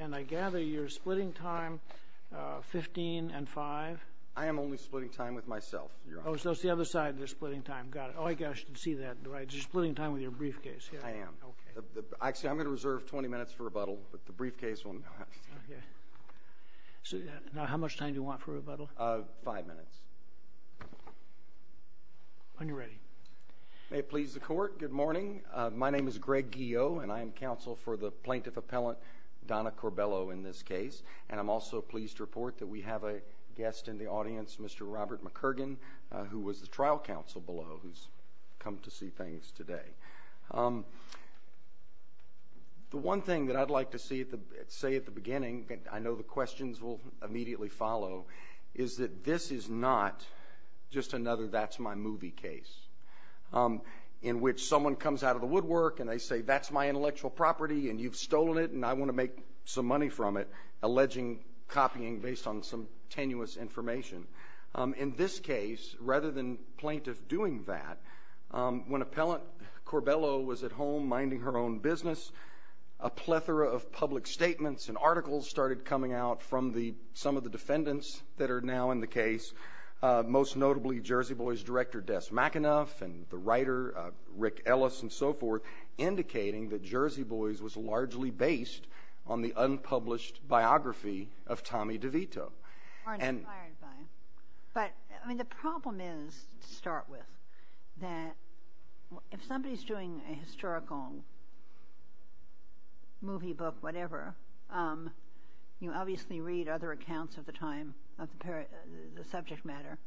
And I gather you're splitting time 15 and 5? I am only splitting time with myself, Your Honor. Oh, so it's the other side you're splitting time. Got it. Oh, I guess I should see that. You're splitting time with your briefcase. I am. Actually, I'm going to reserve 20 minutes for rebuttal, but the briefcase will not. Okay. Now, how much time do you want for rebuttal? Five minutes. When you're ready. May it please the Court, good morning. My name is Greg Guillot, and I am counsel for the plaintiff-appellant Donna Corbello in this case, and I'm also pleased to report that we have a guest in the audience, Mr. Robert McCurgan, who was the trial counsel below, who's come to see things today. The one thing that I'd like to say at the beginning, I know the questions will immediately follow, is that this is not just another that's-my-movie case in which someone comes out of the woodwork, and they say, that's my intellectual property, and you've stolen it, and I want to make some money from it, alleging copying based on some tenuous information. In this case, rather than plaintiff doing that, when appellant Corbello was at home minding her own business, a plethora of public statements and articles started coming out from some of the defendants that are now in the case, most notably Jersey Boys director, Des McAnuff, and the writer, Rick Ellis, and so forth, indicating that Jersey Boys was largely based on the unpublished biography of Tommy DeVito. But the problem is, to start with, that if somebody's doing a historical movie book, whatever, you obviously read other accounts of the subject matter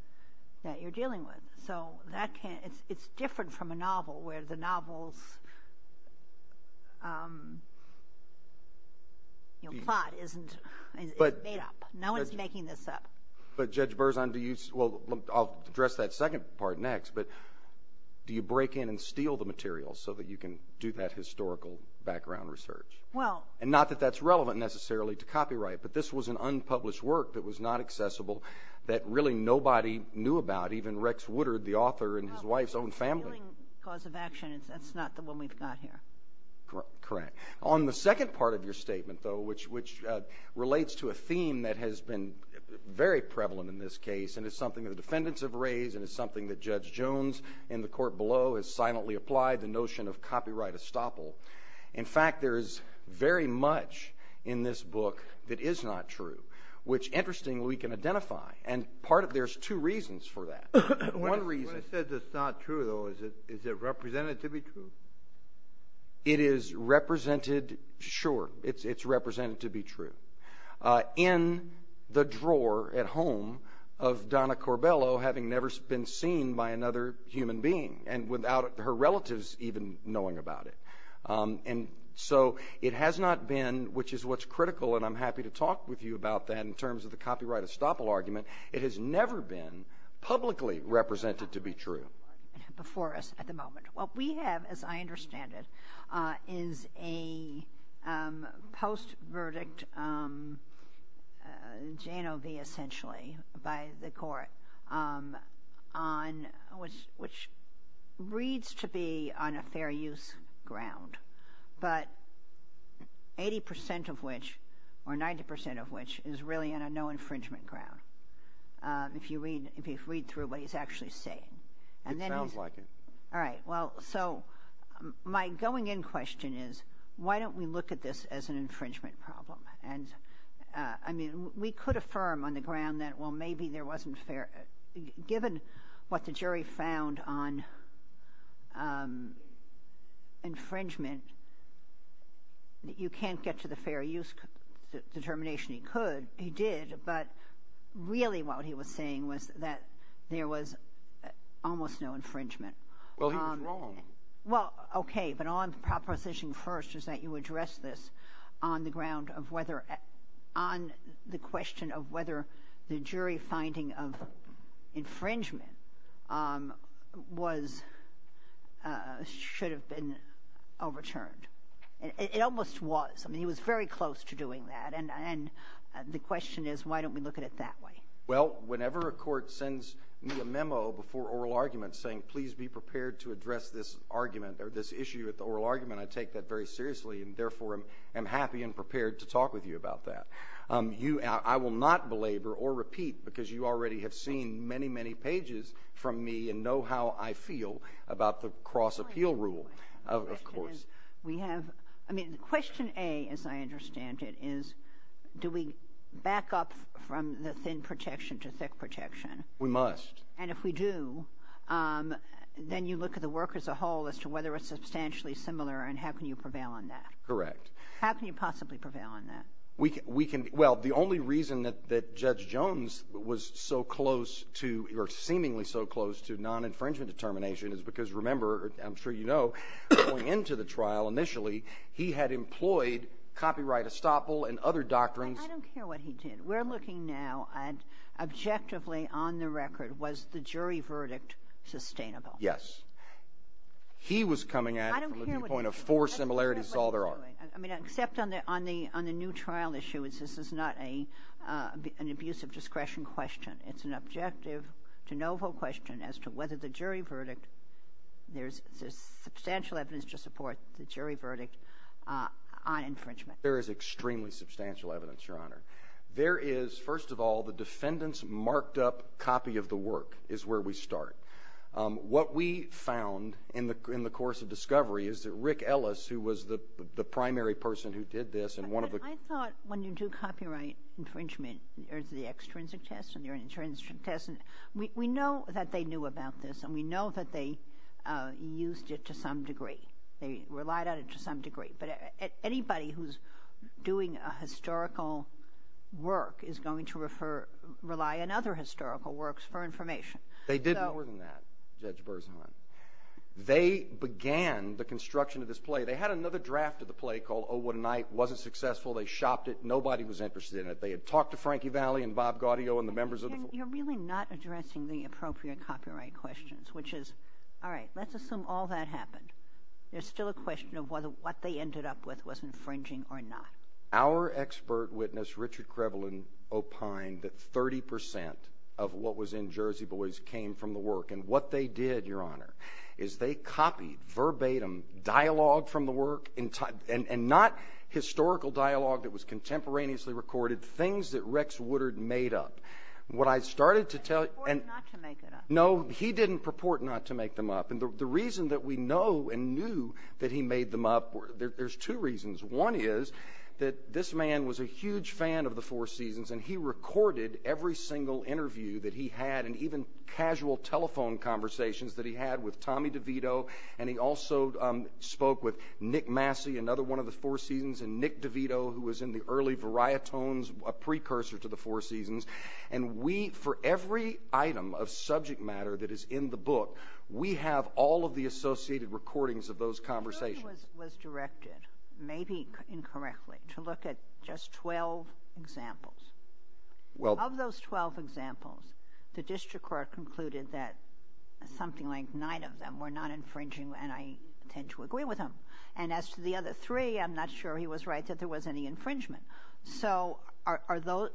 that you're dealing with, so it's different from a novel where the novel's plot isn't made up. No one's making this up. But Judge Berzon, do you-well, I'll address that second part next, but do you break in and steal the material so that you can do that historical background research? Well- And not that that's relevant necessarily to copyright, but this was an unpublished work that was not accessible, that really nobody knew about, even Rex Woodard, the author, and his wife's own family. No, it's a healing cause of action. It's not the one we've got here. Correct. On the second part of your statement, though, which relates to a theme that has been very prevalent in this case and is something that the defendants have raised and is something that Judge Jones in the court below has silently applied, the notion of copyright estoppel. In fact, there is very much in this book that is not true, which, interestingly, we can identify. And there's two reasons for that. One reason- When it says it's not true, though, is it representatively true? It is represented, sure, it's represented to be true, in the drawer at home of Donna Corbello having never been seen by another human being and without her relatives even knowing about it. And so it has not been, which is what's critical, and I'm happy to talk with you about that in terms of the copyright estoppel argument, it has never been publicly represented to be true. Before us at the moment. What we have, as I understand it, is a post-verdict JNOV, essentially, by the court, which reads to be on a fair use ground, but 80 percent of which, or 90 percent of which, is really on a no infringement ground, if you read through what he's actually saying. It sounds like it. All right. Well, so my going-in question is, why don't we look at this as an infringement problem? And, I mean, we could affirm on the ground that, well, maybe there wasn't fair- given what the jury found on infringement, you can't get to the fair use determination. He could. He did. But really what he was saying was that there was almost no infringement. Well, he was wrong. Well, okay, but on proposition first is that you address this on the ground of whether, on the question of whether the jury finding of infringement was, should have been overturned. It almost was. I mean, he was very close to doing that, and the question is, why don't we look at it that way? Well, whenever a court sends me a memo before oral argument saying, please be prepared to address this argument or this issue at the oral argument, I take that very seriously and, therefore, am happy and prepared to talk with you about that. I will not belabor or repeat because you already have seen many, many pages from me and know how I feel about the cross-appeal rule, of course. I mean, question A, as I understand it, is do we back up from the thin protection to thick protection? We must. And if we do, then you look at the work as a whole as to whether it's substantially similar and how can you prevail on that? Correct. How can you possibly prevail on that? Well, the only reason that Judge Jones was so close to, or seemingly so close to non-infringement determination is because, remember, I'm sure you know, going into the trial initially, he had employed copyright estoppel and other doctrines. I don't care what he did. We're looking now at objectively on the record, was the jury verdict sustainable? Yes. He was coming at it from the viewpoint of four similarities, that's all there are. I mean, except on the new trial issue, this is not an abuse of discretion question. It's an objective de novo question as to whether the jury verdict, there's substantial evidence to support the jury verdict on infringement. There is extremely substantial evidence, Your Honor. There is, first of all, the defendant's marked-up copy of the work is where we start. What we found in the course of discovery is that Rick Ellis, who was the primary person who did this, I thought when you do copyright infringement, there's the extrinsic test and the intrinsic test. We know that they knew about this, and we know that they used it to some degree. They relied on it to some degree. But anybody who's doing a historical work is going to rely on other historical works for information. They did more than that, Judge Berzahn. They began the construction of this play. They had another draft of the play called Oh, What a Night. It wasn't successful. They shopped it. Nobody was interested in it. They had talked to Frankie Valli and Bob Gaudio and the members of the board. You're really not addressing the appropriate copyright questions, which is, all right, let's assume all that happened. There's still a question of whether what they ended up with was infringing or not. Our expert witness, Richard Krebelin, opined that 30 percent of what was in Jersey Boys came from the work. And what they did, Your Honor, is they copied verbatim dialogue from the work, and not historical dialogue that was contemporaneously recorded, things that Rex Woodard made up. What I started to tell you – He purported not to make it up. No, he didn't purport not to make them up. And the reason that we know and knew that he made them up, there's two reasons. One is that this man was a huge fan of the Four Seasons, and he recorded every single interview that he had and even casual telephone conversations that he had with Tommy DeVito. And he also spoke with Nick Massey, another one of the Four Seasons, and Nick DeVito, who was in the early varietones, a precursor to the Four Seasons. And we, for every item of subject matter that is in the book, we have all of the associated recordings of those conversations. He was directed, maybe incorrectly, to look at just 12 examples. Of those 12 examples, the district court concluded that something like nine of them were not infringing, and I tend to agree with him. And as to the other three, I'm not sure he was right that there was any infringement. So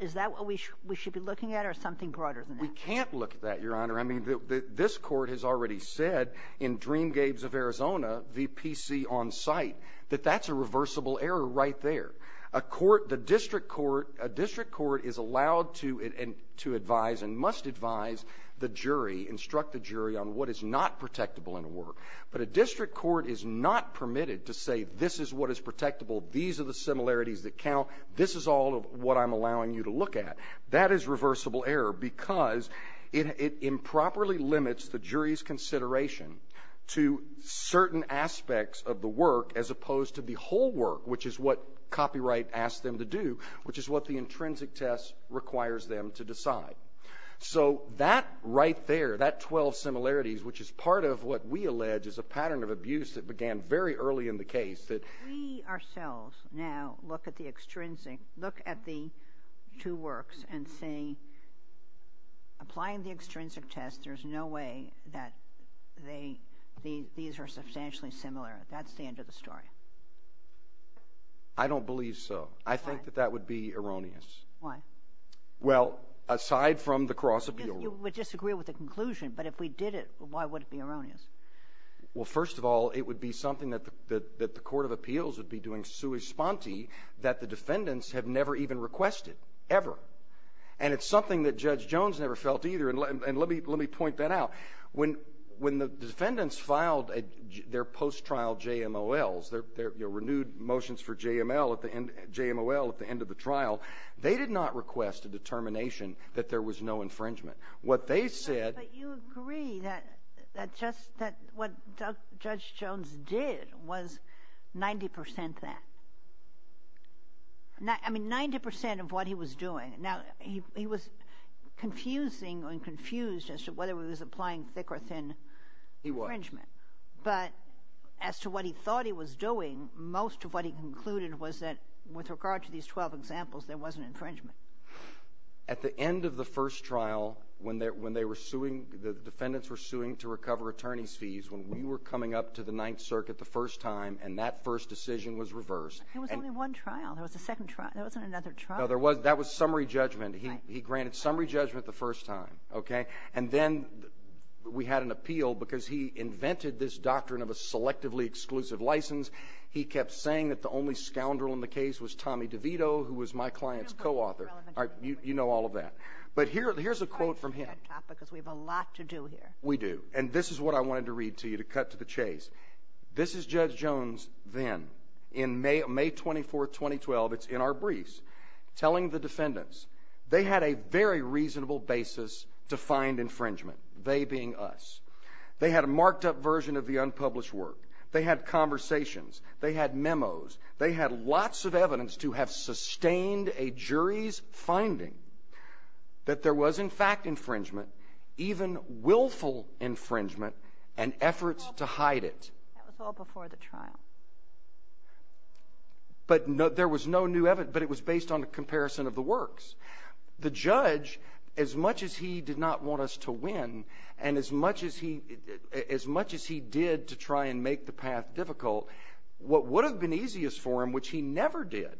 is that what we should be looking at or something broader than that? We can't look at that, Your Honor. I mean, this court has already said in Dreamgates of Arizona, the PC on site, that that's a reversible error right there. A court, the district court, a district court is allowed to advise and must advise the jury, instruct the jury, on what is not protectable in a work. But a district court is not permitted to say this is what is protectable, these are the similarities that count, this is all of what I'm allowing you to look at. That is reversible error because it improperly limits the jury's consideration to certain aspects of the work as opposed to the whole work, which is what copyright asks them to do, which is what the intrinsic test requires them to decide. So that right there, that 12 similarities, which is part of what we allege is a pattern of abuse that began very early in the case. If we ourselves now look at the two works and say applying the extrinsic test, there's no way that these are substantially similar, that's the end of the story. I don't believe so. I think that that would be erroneous. Why? Well, aside from the cross-appeal rule. You would disagree with the conclusion, but if we did it, why would it be erroneous? Well, first of all, it would be something that the court of appeals would be doing sui sponte that the defendants have never even requested, ever. And it's something that Judge Jones never felt either. And let me point that out. When the defendants filed their post-trial JMOLs, their renewed motions for JML at the end of the trial, they did not request a determination that there was no infringement. But you agree that what Judge Jones did was 90 percent that. I mean, 90 percent of what he was doing. Now, he was confusing and confused as to whether he was applying thick or thin infringement. He was. But as to what he thought he was doing, most of what he concluded was that with regard to these 12 examples, there was an infringement. At the end of the first trial, when they were suing, the defendants were suing to recover attorney's fees, when we were coming up to the Ninth Circuit the first time and that first decision was reversed. There was only one trial. There was a second trial. There wasn't another trial. No, there was. That was summary judgment. He granted summary judgment the first time. Okay? And then we had an appeal because he invented this doctrine of a selectively exclusive license. He kept saying that the only scoundrel in the case was Tommy DeVito, who was my client's co-author. All right. You know all of that. But here's a quote from him. Because we have a lot to do here. We do. And this is what I wanted to read to you to cut to the chase. This is Judge Jones then in May 24, 2012. It's in our briefs, telling the defendants. They had a very reasonable basis to find infringement, they being us. They had a marked-up version of the unpublished work. They had conversations. They had memos. They had lots of evidence to have sustained a jury's finding that there was, in fact, infringement, even willful infringement and efforts to hide it. That was all before the trial. But there was no new evidence. But it was based on a comparison of the works. The judge, as much as he did not want us to win, and as much as he did to try and make the path difficult, what would have been easiest for him, which he never did,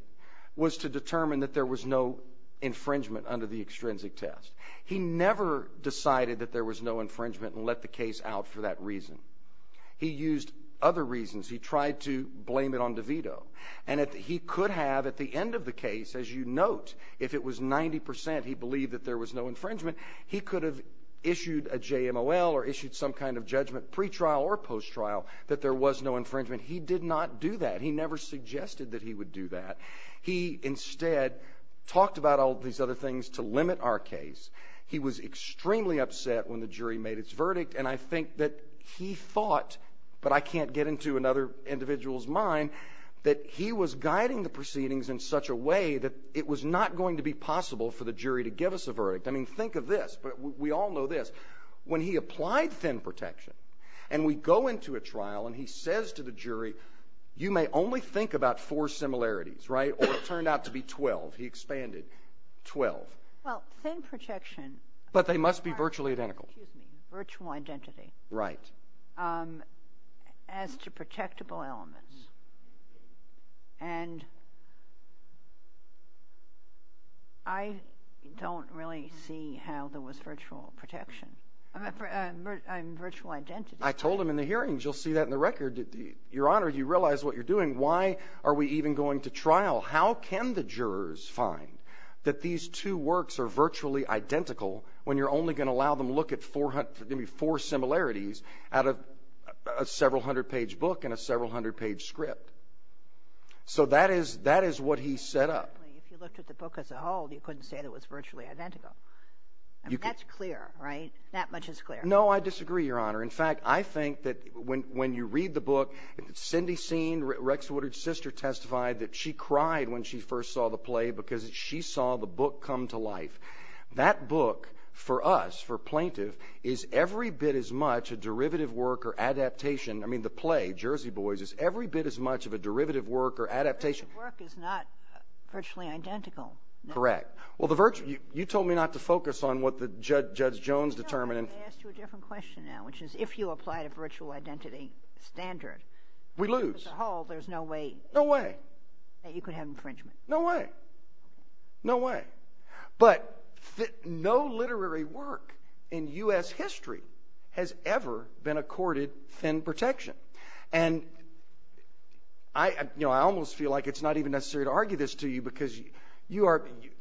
was to determine that there was no infringement under the extrinsic test. He never decided that there was no infringement and let the case out for that reason. He used other reasons. He tried to blame it on DeVito. And he could have, at the end of the case, as you note, if it was 90% he believed that there was no infringement, he could have issued a JMOL or issued some kind of judgment pre-trial or post-trial that there was no infringement. He did not do that. He never suggested that he would do that. He instead talked about all these other things to limit our case. He was extremely upset when the jury made its verdict. And I think that he thought, but I can't get into another individual's mind, that he was guiding the proceedings in such a way that it was not going to be possible for the jury to give us a verdict. I mean, think of this. We all know this. When he applied thin protection and we go into a trial and he says to the jury, you may only think about four similarities, right, or it turned out to be 12, he expanded, 12. Well, thin protection. But they must be virtually identical. Excuse me, virtual identity. Right. As to protectable elements. And I don't really see how there was virtual protection. I mean, virtual identity. I told him in the hearings, you'll see that in the record. Your Honor, do you realize what you're doing? Why are we even going to trial? How can the jurors find that these two works are virtually identical when you're only going to allow them look at four similarities out of a several hundred page book and a several hundred page script? So that is what he set up. If you looked at the book as a whole, you couldn't say that it was virtually identical. That's clear, right? That much is clear. No, I disagree, Your Honor. In fact, I think that when you read the book, Cindy Seen, Rex Woodard's sister, testified that she cried when she first saw the play because she saw the book come to life. That book, for us, for plaintiff, is every bit as much a derivative work or adaptation. I mean, the play, Jersey Boys, is every bit as much of a derivative work or adaptation. A derivative work is not virtually identical. Correct. Well, you told me not to focus on what Judge Jones determined. I asked you a different question now, which is if you applied a virtual identity standard, as a whole, there's no way that you could have infringement. No way. No way. But no literary work in U.S. history has ever been accorded thin protection. I almost feel like it's not even necessary to argue this to you because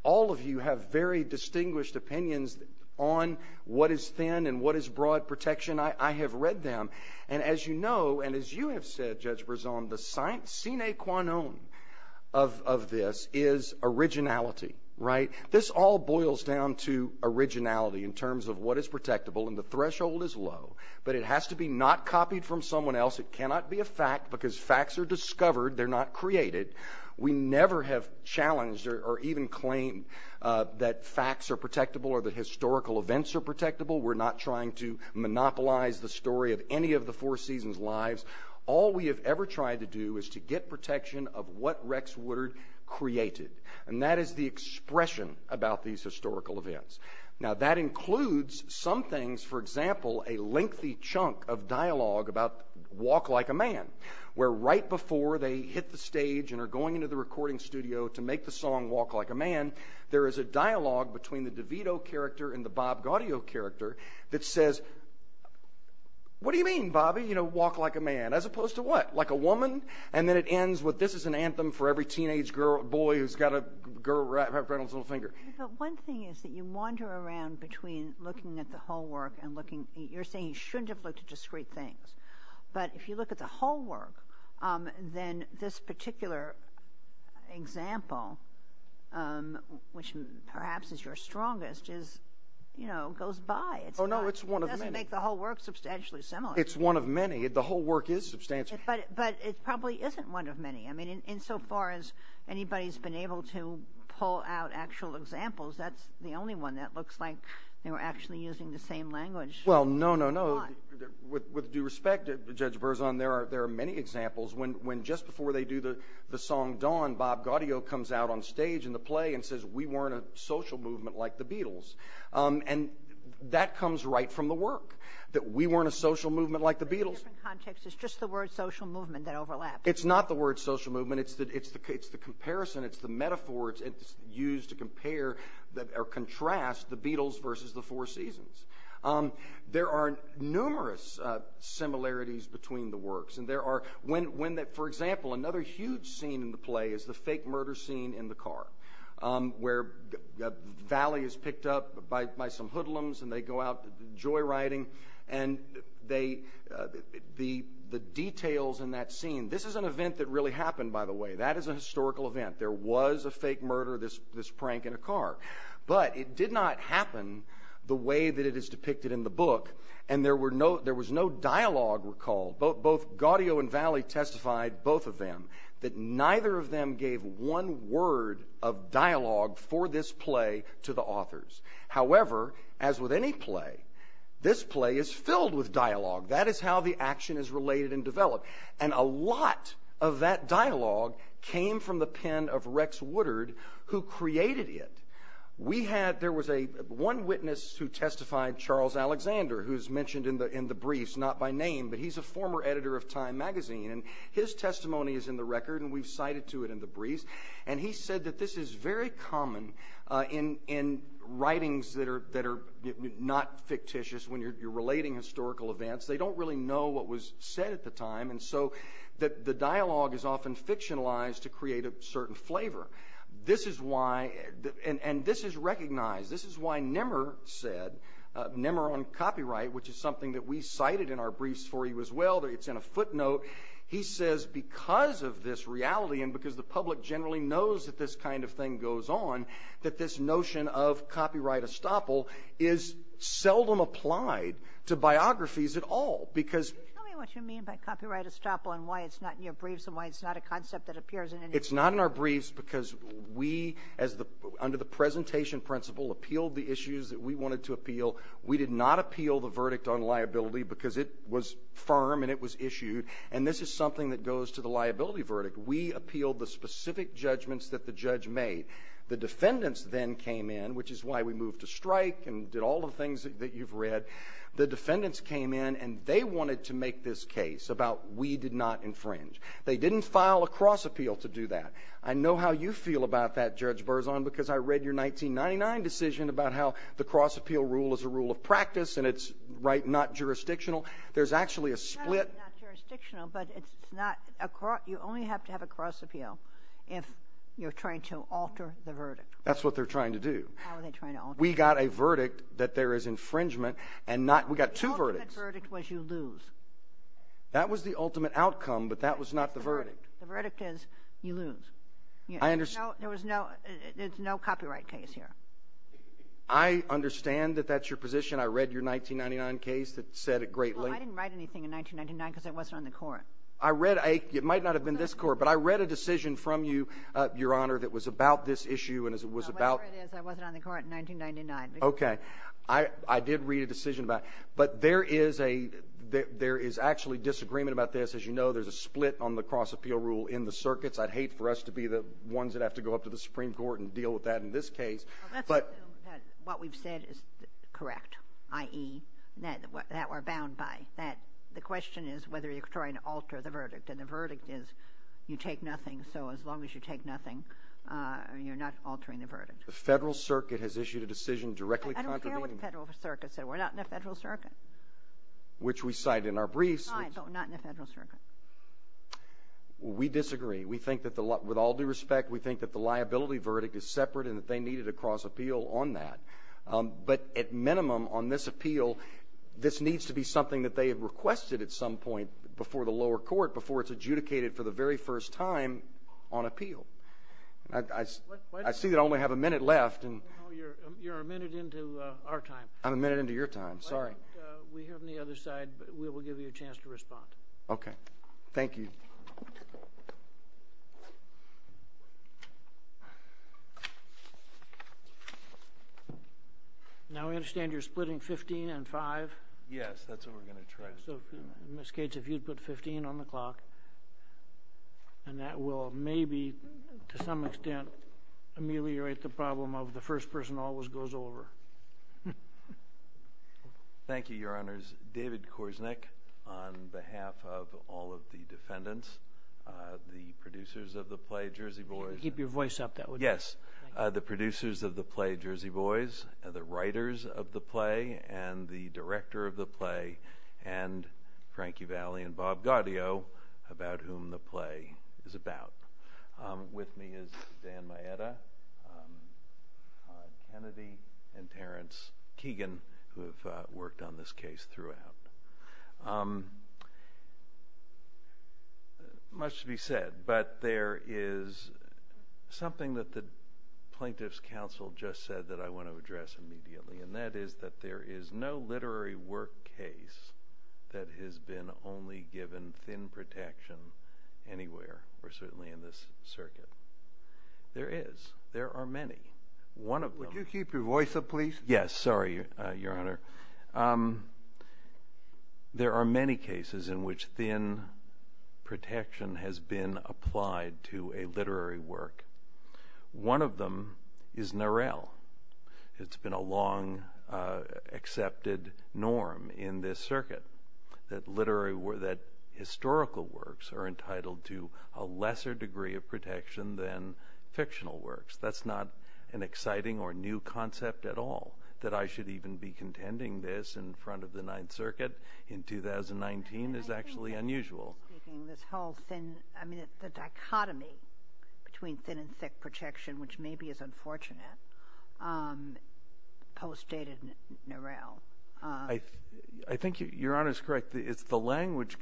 all of you have very distinguished opinions on what is thin and what is broad protection. I have read them. And as you know, and as you have said, Judge Berzon, the sine qua non of this is originality, right? This all boils down to originality in terms of what is protectable, and the threshold is low. But it has to be not copied from someone else. It cannot be a fact because facts are discovered. They're not created. We never have challenged or even claimed that facts are protectable or that historical events are protectable. We're not trying to monopolize the story of any of the Four Seasons' lives. All we have ever tried to do is to get protection of what Rex Woodard created, and that is the expression about these historical events. Now, that includes some things, for example, a lengthy chunk of dialogue about Walk Like a Man, where right before they hit the stage and are going into the recording studio to make the song Walk Like a Man, there is a dialogue between the DeVito character and the Bob Gaudio character that says, What do you mean, Bobby? You know, walk like a man. As opposed to what? Like a woman? And then it ends with this is an anthem for every teenage boy who's got a girl right around his little finger. But one thing is that you wander around between looking at the whole work and looking. You're saying you shouldn't have looked at discrete things, but if you look at the whole work, then this particular example, which perhaps is your strongest, goes by. Oh, no, it's one of many. It doesn't make the whole work substantially similar. It's one of many. The whole work is substantial. But it probably isn't one of many. I mean, insofar as anybody's been able to pull out actual examples, that's the only one that looks like they were actually using the same language. Well, no, no, no. With due respect, Judge Berzon, there are many examples when just before they do the song Dawn, Bob Gaudio comes out on stage in the play and says, We weren't a social movement like the Beatles. And that comes right from the work, that we weren't a social movement like the Beatles. In a different context, it's just the word social movement that overlaps. It's not the word social movement. It's the comparison. It's the metaphor. It's used to compare or contrast the Beatles versus the Four Seasons. There are numerous similarities between the works. For example, another huge scene in the play is the fake murder scene in the car, where Valley is picked up by some hoodlums, and they go out joyriding. And the details in that scene, this is an event that really happened, by the way. That is a historical event. There was a fake murder, this prank in a car. But it did not happen the way that it is depicted in the book, and there was no dialogue recalled. Both Gaudio and Valley testified, both of them, that neither of them gave one word of dialogue for this play to the authors. However, as with any play, this play is filled with dialogue. That is how the action is related and developed. And a lot of that dialogue came from the pen of Rex Woodard, who created it. There was one witness who testified, Charles Alexander, who's mentioned in the briefs, not by name, but he's a former editor of Time magazine, and his testimony is in the record, and we've cited to it in the briefs. And he said that this is very common in writings that are not fictitious, when you're relating historical events. They don't really know what was said at the time, and so the dialogue is often fictionalized to create a certain flavor. And this is recognized. This is why Nimmer said, Nimmer on copyright, which is something that we cited in our briefs for you as well. It's in a footnote. He says because of this reality and because the public generally knows that this kind of thing goes on, that this notion of copyright estoppel is seldom applied to biographies at all. Can you tell me what you mean by copyright estoppel and why it's not in your briefs and why it's not a concept that appears in any of your briefs? It's not in our briefs because we, under the presentation principle, appealed the issues that we wanted to appeal. We did not appeal the verdict on liability because it was firm and it was issued, and this is something that goes to the liability verdict. We appealed the specific judgments that the judge made. The defendants then came in, which is why we moved to strike and did all the things that you've read. The defendants came in, and they wanted to make this case about we did not infringe. They didn't file a cross appeal to do that. I know how you feel about that, Judge Berzon, because I read your 1999 decision about how the cross appeal rule is a rule of practice and it's not jurisdictional. There's actually a split. It's not jurisdictional, but you only have to have a cross appeal if you're trying to alter the verdict. That's what they're trying to do. How are they trying to alter it? We got a verdict that there is infringement, and we got two verdicts. The ultimate verdict was you lose. That was the ultimate outcome, but that was not the verdict. The verdict is you lose. There's no copyright case here. I understand that that's your position. I read your 1999 case that said it greatly. Well, I didn't write anything in 1999 because I wasn't on the court. It might not have been this court, but I read a decision from you, Your Honor, that was about this issue. Whatever it is, I wasn't on the court in 1999. Okay. I did read a decision about it. But there is actually disagreement about this. As you know, there's a split on the cross appeal rule in the circuits. I'd hate for us to be the ones that have to go up to the Supreme Court and deal with that in this case. What we've said is correct, i.e., that we're bound by that. The question is whether you're trying to alter the verdict, and the verdict is you take nothing. So as long as you take nothing, you're not altering the verdict. The Federal Circuit has issued a decision directly contravening that. I don't care what the Federal Circuit said. We're not in the Federal Circuit. Which we cite in our briefs. We're not in the Federal Circuit. We disagree. With all due respect, we think that the liability verdict is separate and that they needed a cross appeal on that. But at minimum, on this appeal, this needs to be something that they requested at some point before the lower court, before it's adjudicated for the very first time on appeal. I see that I only have a minute left. No, you're a minute into our time. I'm a minute into your time. Sorry. Why don't we hear from the other side? We will give you a chance to respond. Okay. Thank you. Now, I understand you're splitting 15 and 5. Yes, that's what we're going to try to do. Ms. Gates, if you'd put 15 on the clock, and that will maybe to some extent ameliorate the problem of the first person always goes over. Thank you, Your Honors. David Korsnick, on behalf of all of the defendants, the producers of the play Jersey Boys. Keep your voice up, that would help. Yes, the producers of the play Jersey Boys, the writers of the play, and the director of the play, and Frankie Valli and Bob Gaudio, about whom the play is about. With me is Dan Maeda, Kennedy, and Terrence Keegan, who have worked on this case throughout. Much to be said, but there is something that the plaintiff's counsel just said that I want to address immediately, and that is that there is no literary work case that has been only given thin protection anywhere, or certainly in this circuit. There is. There are many. Would you keep your voice up, please? Yes, sorry, Your Honor. There are many cases in which thin protection has been applied to a literary work. One of them is Norell. It's been a long accepted norm in this circuit, that historical works are entitled to a lesser degree of protection than fictional works. That's not an exciting or new concept at all. That I should even be contending this in front of the Ninth Circuit in 2019 is actually unusual. I think you're speaking of this whole thin, I mean the dichotomy between thin and thick protection, which maybe is unfortunate, post-dated Norell. I think Your Honor is correct. The language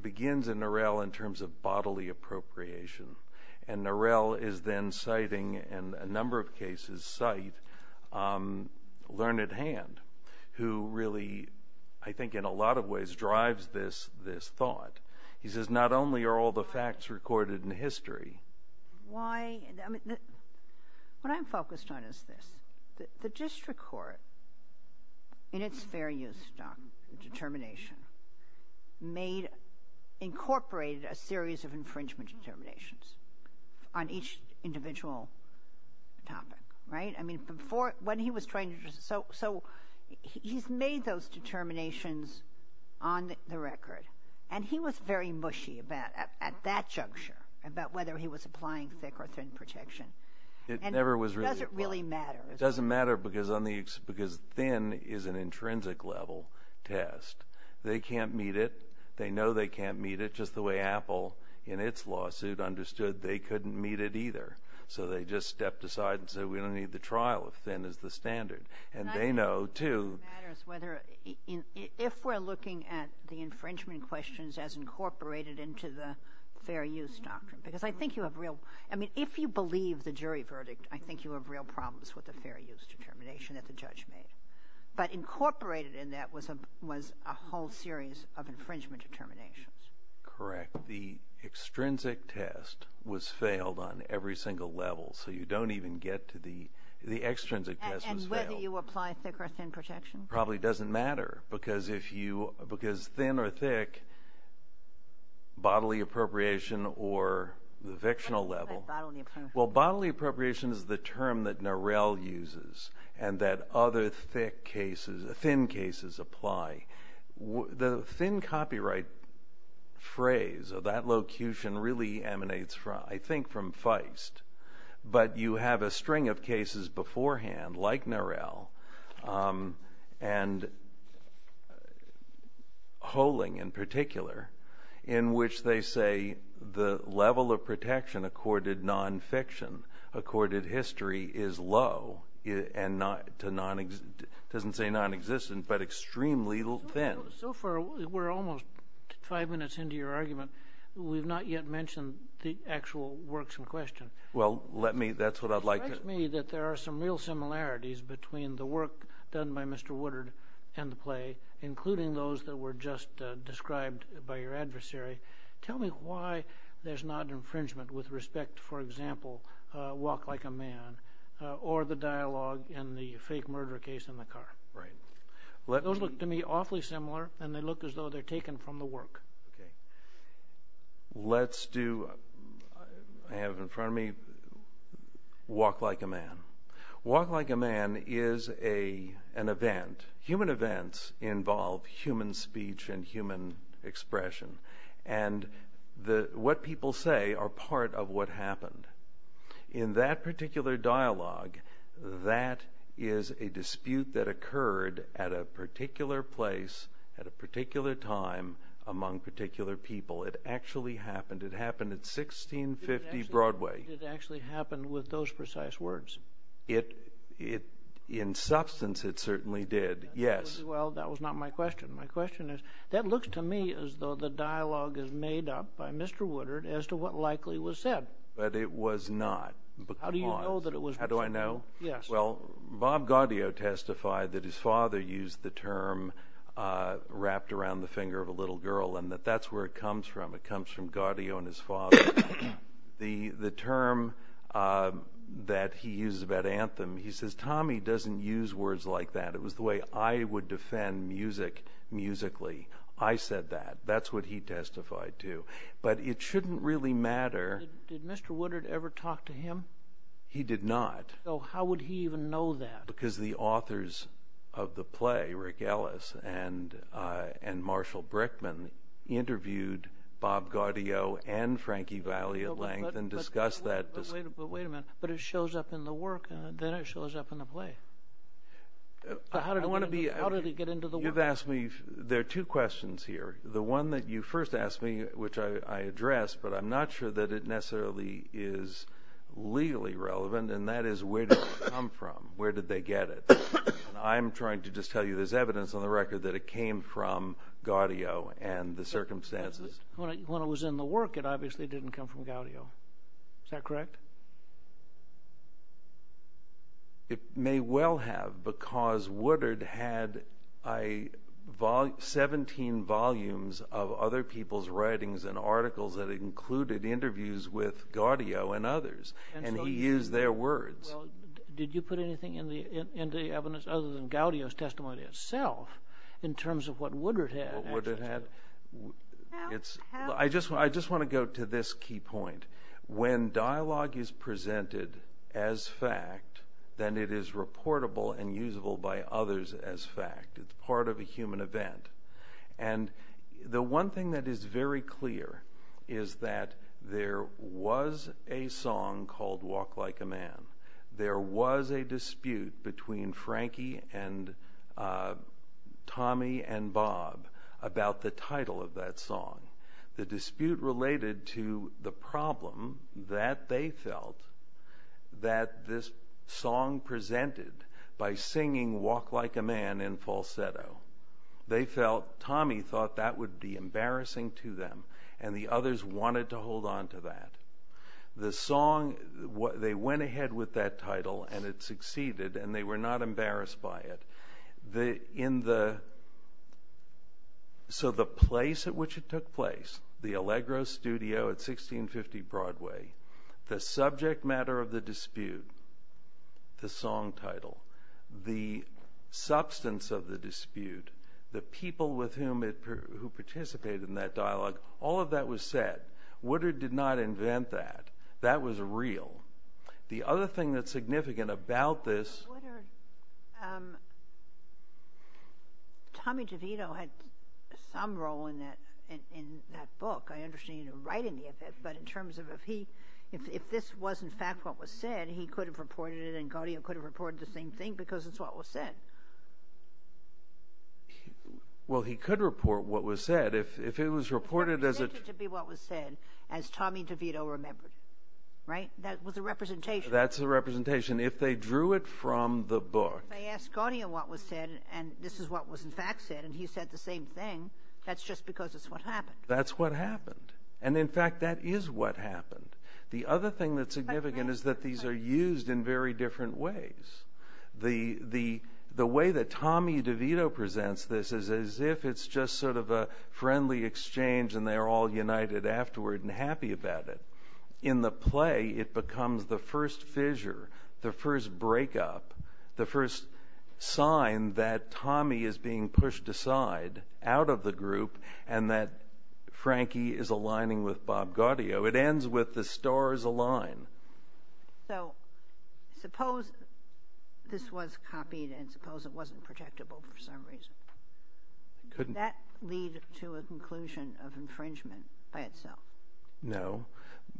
begins in Norell in terms of bodily appropriation, and Norell is then citing, and a number of cases cite, Learned Hand, who really I think in a lot of ways drives this thought. He says not only are all the facts recorded in history. Why? What I'm focused on is this. The district court, in its fair use doc, determination, made, incorporated a series of infringement determinations on each individual topic, right? I mean before, when he was trying to, so he's made those determinations on the record, and he was very mushy at that juncture about whether he was applying thick or thin protection. It never was really. It doesn't really matter. It doesn't matter because thin is an intrinsic level test. They can't meet it. They know they can't meet it. Just the way Apple, in its lawsuit, understood they couldn't meet it either. So they just stepped aside and said we don't need the trial if thin is the standard. And they know too. If we're looking at the infringement questions as incorporated into the fair use doctrine, because I think you have real, I mean if you believe the jury verdict, I think you have real problems with the fair use determination that the judge made. But incorporated in that was a whole series of infringement determinations. Correct. The extrinsic test was failed on every single level. So you don't even get to the, the extrinsic test was failed. And whether you apply thick or thin protection? Probably doesn't matter. Because if you, because thin or thick, bodily appropriation or the fictional level. What do you mean by bodily appropriation? Well, bodily appropriation is the term that Norell uses and that other thick cases, thin cases apply. The thin copyright phrase of that locution really emanates, I think, from Feist. But you have a string of cases beforehand like Norell. And Holing in particular, in which they say the level of protection accorded non-fiction, accorded history is low and not, doesn't say non-existent, but extremely thin. So far, we're almost five minutes into your argument. We've not yet mentioned the actual works in question. Well, let me, that's what I'd like to. It seems to me that there are some real similarities between the work done by Mr. Woodard and the play, including those that were just described by your adversary. Tell me why there's not infringement with respect, for example, Walk Like a Man, or the dialogue in the fake murder case in the car. Right. Those look to me awfully similar, and they look as though they're taken from the work. Let's do, I have in front of me Walk Like a Man. Walk Like a Man is an event. Human events involve human speech and human expression. And what people say are part of what happened. In that particular dialogue, that is a dispute that occurred at a particular place, at a particular time, among particular people. It actually happened. It happened at 1650 Broadway. It actually happened with those precise words. In substance, it certainly did, yes. Well, that was not my question. My question is, that looks to me as though the dialogue is made up by Mr. Woodard as to what likely was said. But it was not. How do you know that it was? How do I know? Yes. Well, Bob Gaudio testified that his father used the term wrapped around the finger of a little girl, and that that's where it comes from. It comes from Gaudio and his father. The term that he uses about anthem, he says, Tommy doesn't use words like that. It was the way I would defend music, musically. I said that. That's what he testified to. But it shouldn't really matter. Did Mr. Woodard ever talk to him? He did not. How would he even know that? Because the authors of the play, Rick Ellis and Marshall Brickman, interviewed Bob Gaudio and Frankie Valli at length and discussed that. But wait a minute. But it shows up in the work. Then it shows up in the play. How did it get into the work? There are two questions here. The one that you first asked me, which I addressed, but I'm not sure that it necessarily is legally relevant, and that is where did it come from? Where did they get it? I'm trying to just tell you there's evidence on the record that it came from Gaudio and the circumstances. When it was in the work, it obviously didn't come from Gaudio. Is that correct? It may well have because Woodard had 17 volumes of other people's writings and articles that included interviews with Gaudio and others, and he used their words. Did you put anything into the evidence other than Gaudio's testimony itself in terms of what Woodard had? I just want to go to this key point. When dialogue is presented as fact, then it is reportable and usable by others as fact. It's part of a human event. The one thing that is very clear is that there was a song called Walk Like a Man. There was a dispute between Frankie and Tommy and Bob about the title of that song. The dispute related to the problem that they felt that this song presented by singing Walk Like a Man in falsetto. Tommy thought that would be embarrassing to them, and the others wanted to hold on to that. They went ahead with that title, and it succeeded, and they were not embarrassed by it. So the place at which it took place, the Allegro studio at 1650 Broadway, the subject matter of the dispute, the song title, the substance of the dispute, the people who participated in that dialogue, all of that was said. Woodard did not invent that. That was real. The other thing that's significant about this... Tommy DeVito had some role in that book. I understand he didn't write any of it, but in terms of if this was in fact what was said, he could have reported it and Garnier could have reported the same thing because it's what was said. Well, he could report what was said. If it was reported as a... It could be what was said as Tommy DeVito remembered. Right? That was a representation. That's a representation. If they drew it from the book... If they asked Garnier what was said, and this is what was in fact said, and he said the same thing, that's just because it's what happened. That's what happened. And, in fact, that is what happened. The other thing that's significant is that these are used in very different ways. The way that Tommy DeVito presents this is as if it's just sort of a friendly exchange and they're all united afterward and happy about it. In the play, it becomes the first fissure, the first breakup, the first sign that Tommy is being pushed aside out of the group and that Frankie is aligning with Bob Gaudio. It ends with the stars align. So suppose this was copied and suppose it wasn't protectable for some reason. Could that lead to a conclusion of infringement by itself? No,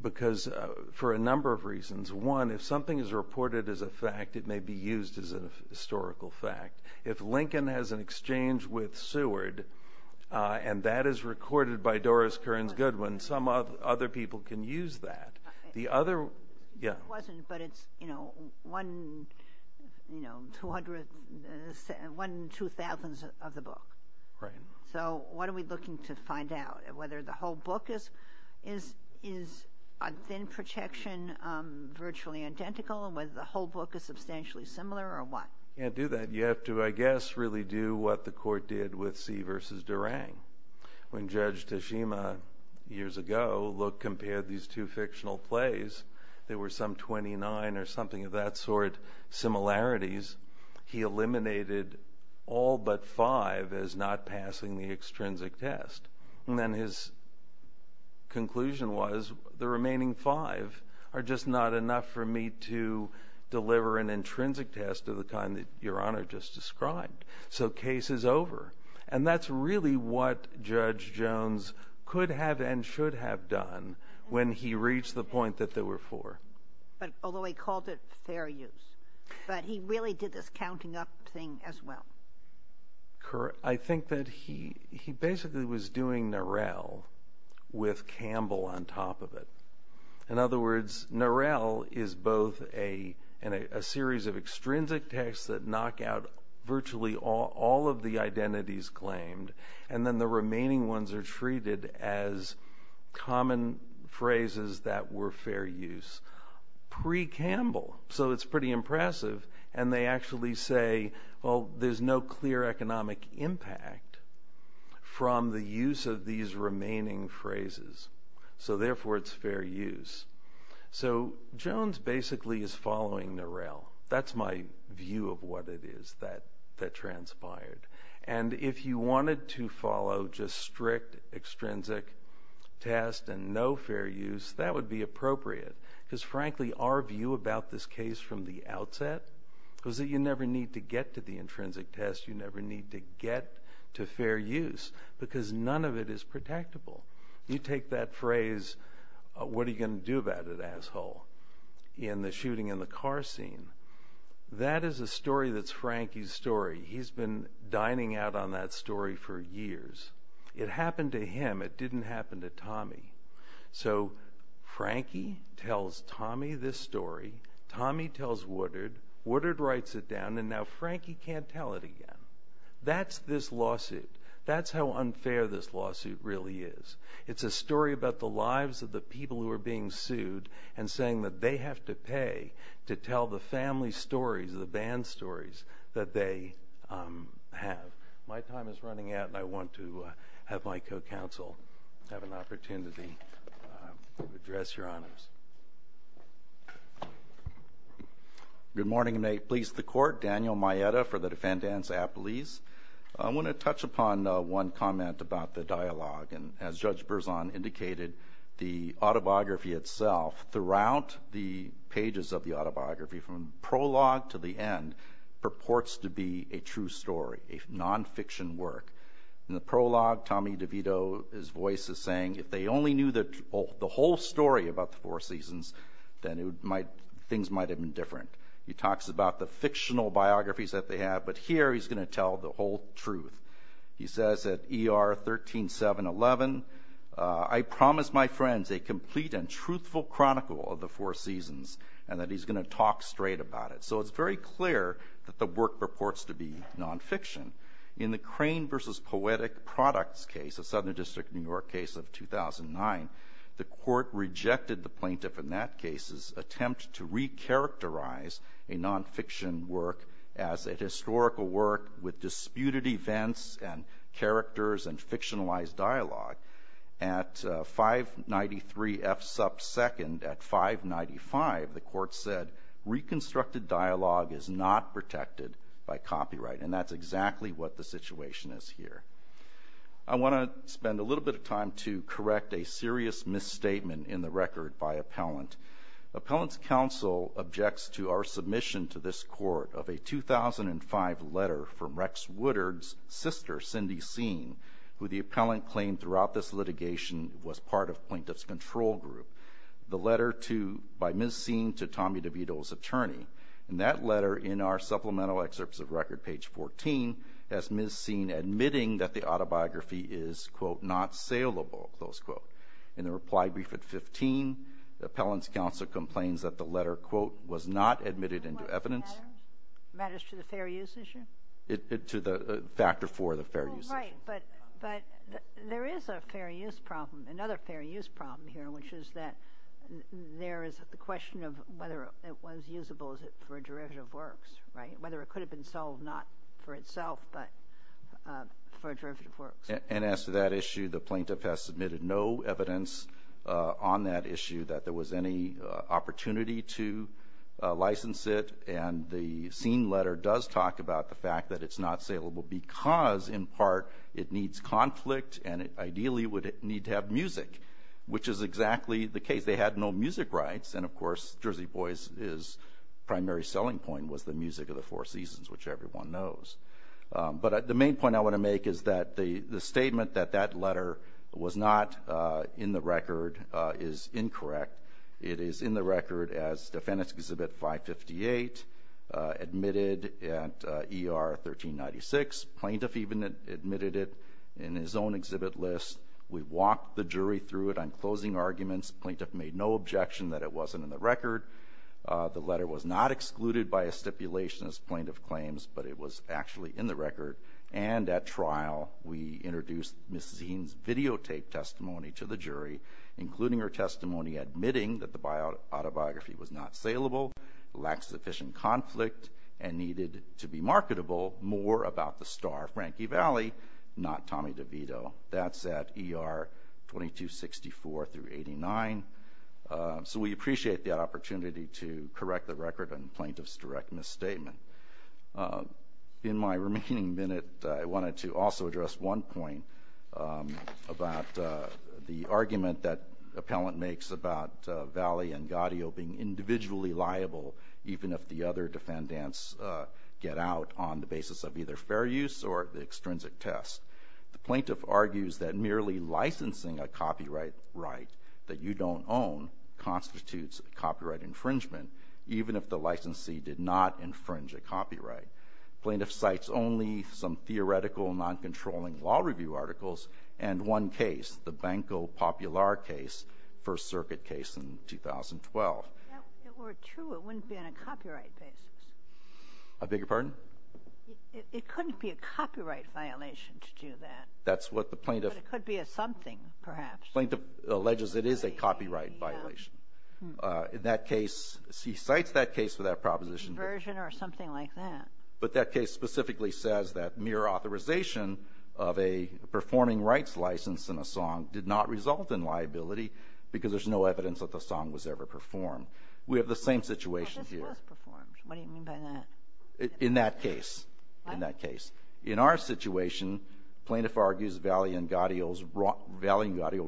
because for a number of reasons. One, if something is reported as a fact, it may be used as a historical fact. If Lincoln has an exchange with Seward and that is recorded by Doris Kearns Goodwin, some other people can use that. It wasn't, but it's one in two thousands of the book. So what are we looking to find out? Whether the whole book is a thin projection, virtually identical, and whether the whole book is substantially similar or what? You can't do that. You have to, I guess, really do what the court did with See v. Durang. When Judge Tashima, years ago, compared these two fictional plays, there were some 29 or something of that sort similarities. He eliminated all but five as not passing the extrinsic test. And then his conclusion was the remaining five are just not enough for me to deliver an intrinsic test of the kind that Your Honor just described. So case is over. And that's really what Judge Jones could have and should have done when he reached the point that there were four. Although he called it fair use. But he really did this counting up thing as well. Correct. I think that he basically was doing Norell with Campbell on top of it. In other words, Norell is both a series of extrinsic tests that knock out virtually all of the identities claimed, and then the remaining ones are treated as common phrases that were fair use pre-Campbell, so it's pretty impressive. And they actually say, well, there's no clear economic impact from the use of these remaining phrases, so therefore it's fair use. So Jones basically is following Norell. That's my view of what it is that transpired. And if you wanted to follow just strict extrinsic test and no fair use, that would be appropriate because, frankly, our view about this case from the outset was that you never need to get to the intrinsic test. You never need to get to fair use because none of it is protectable. You take that phrase, what are you going to do about it, asshole, in the shooting in the car scene. That is a story that's Frankie's story. He's been dining out on that story for years. It happened to him. It didn't happen to Tommy. So Frankie tells Tommy this story. Tommy tells Woodard. Woodard writes it down, and now Frankie can't tell it again. That's this lawsuit. That's how unfair this lawsuit really is. It's a story about the lives of the people who are being sued and saying that they have to pay to tell the family stories, the band stories that they have. My time is running out, and I want to have my co-counsel have an opportunity to address Your Honors. Good morning. May it please the Court. Daniel Maeda for the Defendants Appellees. I want to touch upon one comment about the dialogue. As Judge Berzon indicated, the autobiography itself throughout the pages of the autobiography, from prologue to the end, purports to be a true story, a nonfiction work. In the prologue, Tommy DeVito, his voice is saying, if they only knew the whole story about the Four Seasons, then things might have been different. He talks about the fictional biographies that they have, but here he's going to tell the whole truth. He says at ER 13711, I promise my friends a complete and truthful chronicle of the Four Seasons, and that he's going to talk straight about it. So it's very clear that the work purports to be nonfiction. In the Crane v. Poetic Products case, a Southern District of New York case of 2009, the Court rejected the plaintiff in that case's attempt to recharacterize a nonfiction work as a historical work with disputed events and characters and fictionalized dialogue. At 593 F. Supp. 2nd, at 595, the Court said, reconstructed dialogue is not protected by copyright, and that's exactly what the situation is here. I want to spend a little bit of time to correct a serious misstatement in the record by Appellant. Appellant's counsel objects to our submission to this Court of a 2005 letter from Rex Woodard's sister, Cindy Seen, who the appellant claimed throughout this litigation was part of plaintiff's control group, the letter by Ms. Seen to Tommy DeVito's attorney. And that letter in our supplemental excerpts of record, page 14, has Ms. Seen admitting that the autobiography is, quote, not saleable, close quote. In the reply brief at 15, the appellant's counsel complains that the letter, quote, was not admitted into evidence. Matters to the fair use issue? To the factor for the fair use issue. Right, but there is a fair use problem, another fair use problem here, which is that there is the question of whether it was usable for a derivative works, whether it could have been sold not for itself but for a derivative works. And as to that issue, the plaintiff has submitted no evidence on that issue that there was any opportunity to license it, and the Seen letter does talk about the fact that it's not saleable because in part it needs conflict and it ideally would need to have music, which is exactly the case. They had no music rights, and, of course, Jersey Boys' primary selling point was the music of the Four Seasons, which everyone knows. But the main point I want to make is that the statement that that letter was not in the record is incorrect. It is in the record as Defendant's Exhibit 558, admitted at ER 1396. Plaintiff even admitted it in his own exhibit list. We walked the jury through it on closing arguments. Plaintiff made no objection that it wasn't in the record. The letter was not excluded by a stipulation as plaintiff claims, but it was actually in the record. And at trial we introduced Ms. Seen's videotaped testimony to the jury, including her testimony admitting that the autobiography was not saleable, lacked sufficient conflict, and needed to be marketable, more about the star of Frankie Valli, not Tommy DeVito. That's at ER 2264-89. So we appreciate the opportunity to correct the record and plaintiff's direct misstatement. In my remaining minute, I wanted to also address one point about the argument that the appellant makes about Valli and Gaudio being individually liable even if the other defendants get out on the basis of either fair use or the extrinsic test. The plaintiff argues that merely licensing a copyright right that you don't own constitutes copyright infringement, even if the licensee did not infringe a copyright. Plaintiff cites only some theoretical noncontrolling law review articles and one case, the Banco Popular case, First Circuit case in 2012. That were true, it wouldn't be on a copyright basis. I beg your pardon? It couldn't be a copyright violation to do that. That's what the plaintiff... But it could be a something, perhaps. The plaintiff alleges it is a copyright violation. In that case, he cites that case for that proposition. Diversion or something like that. But that case specifically says that mere authorization of a performing rights license in a song did not result in liability because there's no evidence that the song was ever performed. We have the same situation here. But this was performed. What do you mean by that? In that case. In that case. In our situation, plaintiff argues Valle and Gaudio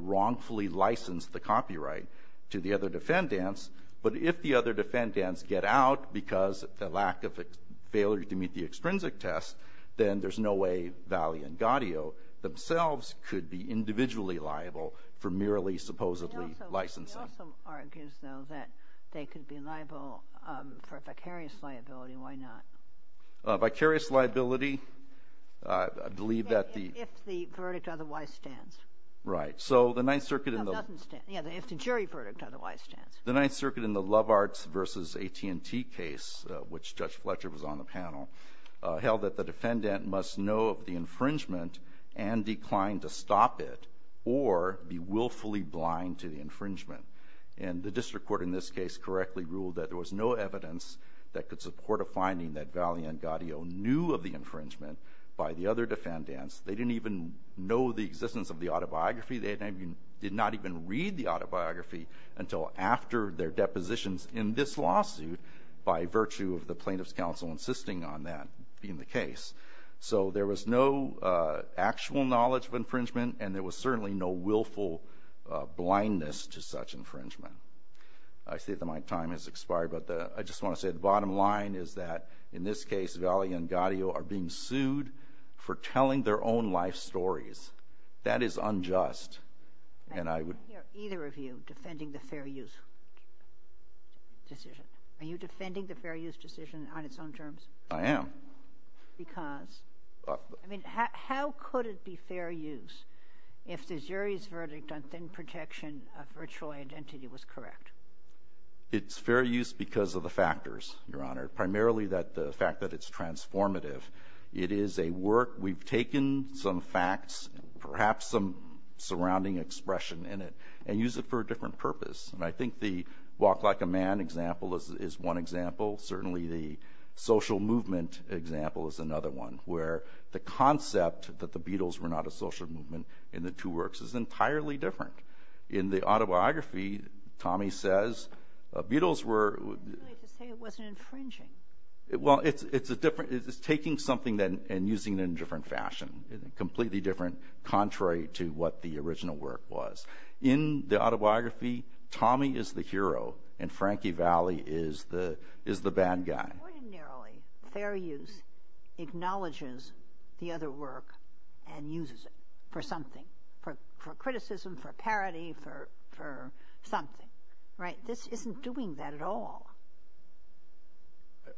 wrongfully licensed the copyright to the other defendants. But if the other defendants get out because of the lack of failure to meet the extrinsic test, then there's no way Valle and Gaudio themselves could be individually liable for merely supposedly licensing. He also argues, though, that they could be liable for vicarious liability. Why not? Vicarious liability, I believe that the- If the verdict otherwise stands. Right. So the Ninth Circuit in the- No, it doesn't stand. Yeah, if the jury verdict otherwise stands. The Ninth Circuit in the Love Arts v. AT&T case, which Judge Fletcher was on the panel, held that the defendant must know of the infringement and decline to stop it or be willfully blind to the infringement. And the district court in this case correctly ruled that there was no evidence that could support a finding that Valle and Gaudio knew of the infringement by the other defendants. They didn't even know the existence of the autobiography. They did not even read the autobiography until after their depositions in this lawsuit by virtue of the plaintiff's counsel insisting on that being the case. So there was no actual knowledge of infringement, and there was certainly no willful blindness to such infringement. I see that my time has expired, but I just want to say the bottom line is that, in this case, Valle and Gaudio are being sued for telling their own life stories. That is unjust. And I would- I can't hear either of you defending the fair use decision. Are you defending the fair use decision on its own terms? I am. Because? I mean, how could it be fair use if the jury's verdict on thin protection of virtual identity was correct? It's fair use because of the factors, Your Honor, primarily the fact that it's transformative. It is a work. We've taken some facts, perhaps some surrounding expression in it, and used it for a different purpose. And I think the walk like a man example is one example. Certainly the social movement example is another one, where the concept that the Beatles were not a social movement in the two works is entirely different. In the autobiography, Tommy says, Beatles were- Not really to say it wasn't infringing. Well, it's taking something and using it in a different fashion, completely different, contrary to what the original work was. In the autobiography, Tommy is the hero and Frankie Valli is the bad guy. Ordinarily, fair use acknowledges the other work and uses it for something, for criticism, for parody, for something. Right? This isn't doing that at all.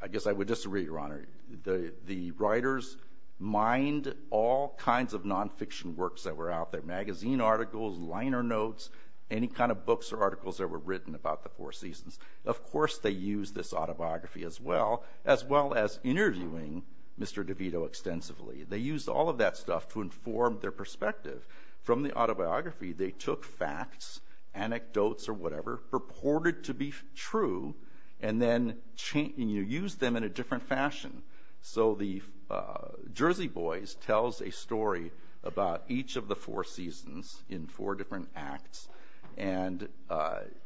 I guess I would disagree, Your Honor. The writers mined all kinds of nonfiction works that were out there, magazine articles, liner notes, any kind of books or articles that were written about the Four Seasons. Of course they used this autobiography as well, as well as interviewing Mr. DeVito extensively. They used all of that stuff to inform their perspective. From the autobiography, they took facts, anecdotes or whatever, purported to be true, and then used them in a different fashion. So the Jersey Boys tells a story about each of the Four Seasons in four different acts. And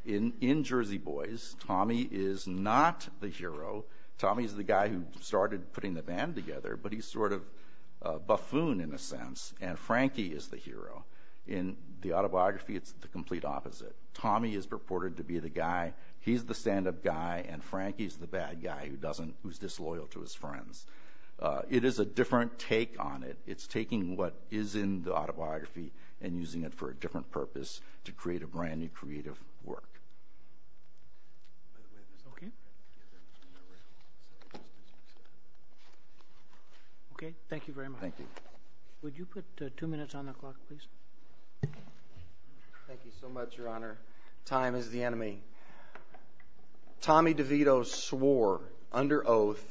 in Jersey Boys, Tommy is not the hero. Tommy's the guy who started putting the band together, but he's sort of buffoon in a sense, and Frankie is the hero. In the autobiography, it's the complete opposite. Tommy is purported to be the guy. He's the stand-up guy, and Frankie's the bad guy who's disloyal to his friends. It is a different take on it. It's taking what is in the autobiography and using it for a different purpose to create a brand new creative work. Okay, thank you very much. Thank you. Would you put two minutes on the clock, please? Thank you so much, Your Honor. Time is the enemy. Tommy DeVito swore under oath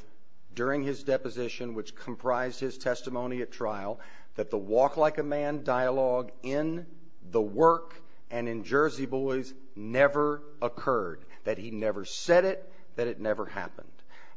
during his deposition, which comprised his testimony at trial, that the walk-like-a-man dialogue in the work and in Jersey Boys never occurred, that he never said it, that it never happened.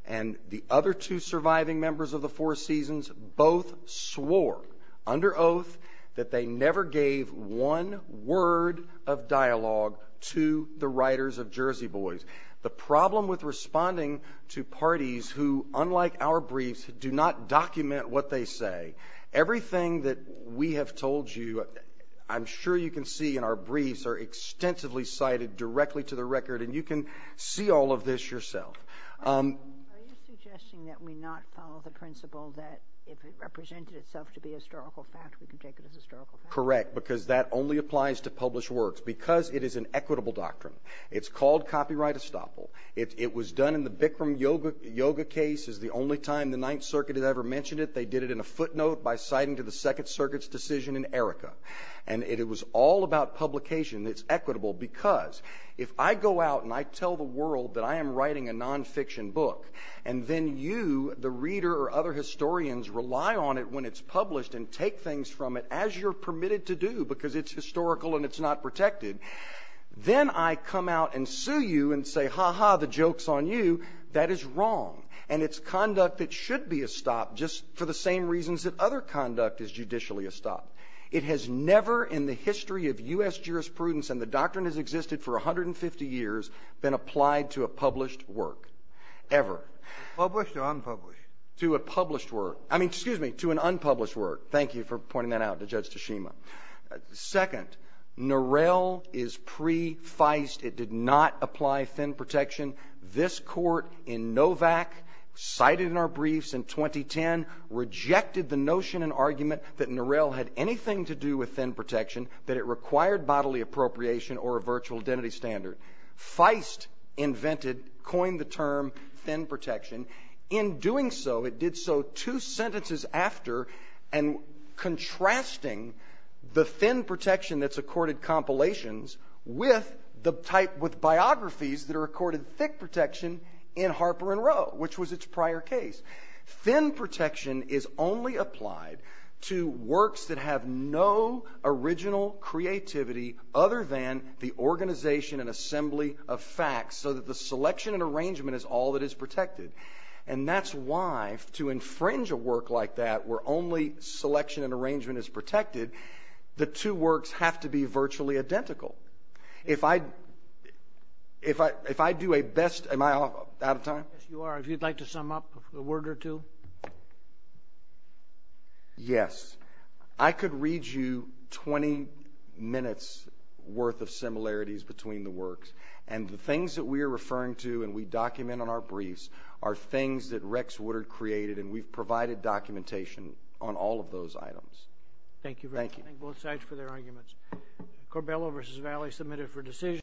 And the other two surviving members of the Four Seasons both swore under oath that they never gave one word of dialogue to the writers of Jersey Boys. The problem with responding to parties who, unlike our briefs, do not document what they say, everything that we have told you, I'm sure you can see in our briefs, are extensively cited directly to the record, and you can see all of this yourself. Are you suggesting that we not follow the principle that if it represented itself to be a historical fact, we can take it as a historical fact? Correct, because that only applies to published works, because it is an equitable doctrine. It's called copyright estoppel. It was done in the Bikram Yoga case. It's the only time the Ninth Circuit has ever mentioned it. They did it in a footnote by citing to the Second Circuit's decision in Erica. And it was all about publication. It's equitable because if I go out and I tell the world that I am writing a nonfiction book, and then you, the reader or other historians, rely on it when it's published and take things from it as you're permitted to do because it's historical and it's not protected, then I come out and sue you and say, ha-ha, the joke's on you. That is wrong. And it's conduct that should be estopped just for the same reasons that other conduct is judicially estopped. It has never in the history of U.S. jurisprudence, and the doctrine has existed for 150 years, been applied to a published work, ever. Published or unpublished? To a published work. I mean, excuse me, to an unpublished work. Thank you for pointing that out to Judge Tashima. Second, Norell is pre-Feist. It did not apply thin protection. This court in Novak, cited in our briefs in 2010, rejected the notion and argument that Norell had anything to do with thin protection, that it required bodily appropriation or a virtual identity standard. Feist invented, coined the term thin protection. In doing so, it did so two sentences after, and contrasting the thin protection that's accorded compilations with biographies that are accorded thick protection in Harper and Row, which was its prior case. Thin protection is only applied to works that have no original creativity other than the organization and assembly of facts, so that the selection and arrangement is all that is protected. And that's why, to infringe a work like that, where only selection and arrangement is protected, the two works have to be virtually identical. If I do a best, am I out of time? Yes, you are. If you'd like to sum up a word or two. Yes. I could read you 20 minutes' worth of similarities between the works, and the things that we are referring to and we document on our briefs are things that Rex Woodard created, and we've provided documentation on all of those items. Thank you very much. Thank you. Thank both sides for their arguments. Corbello v. Valley submitted for decision.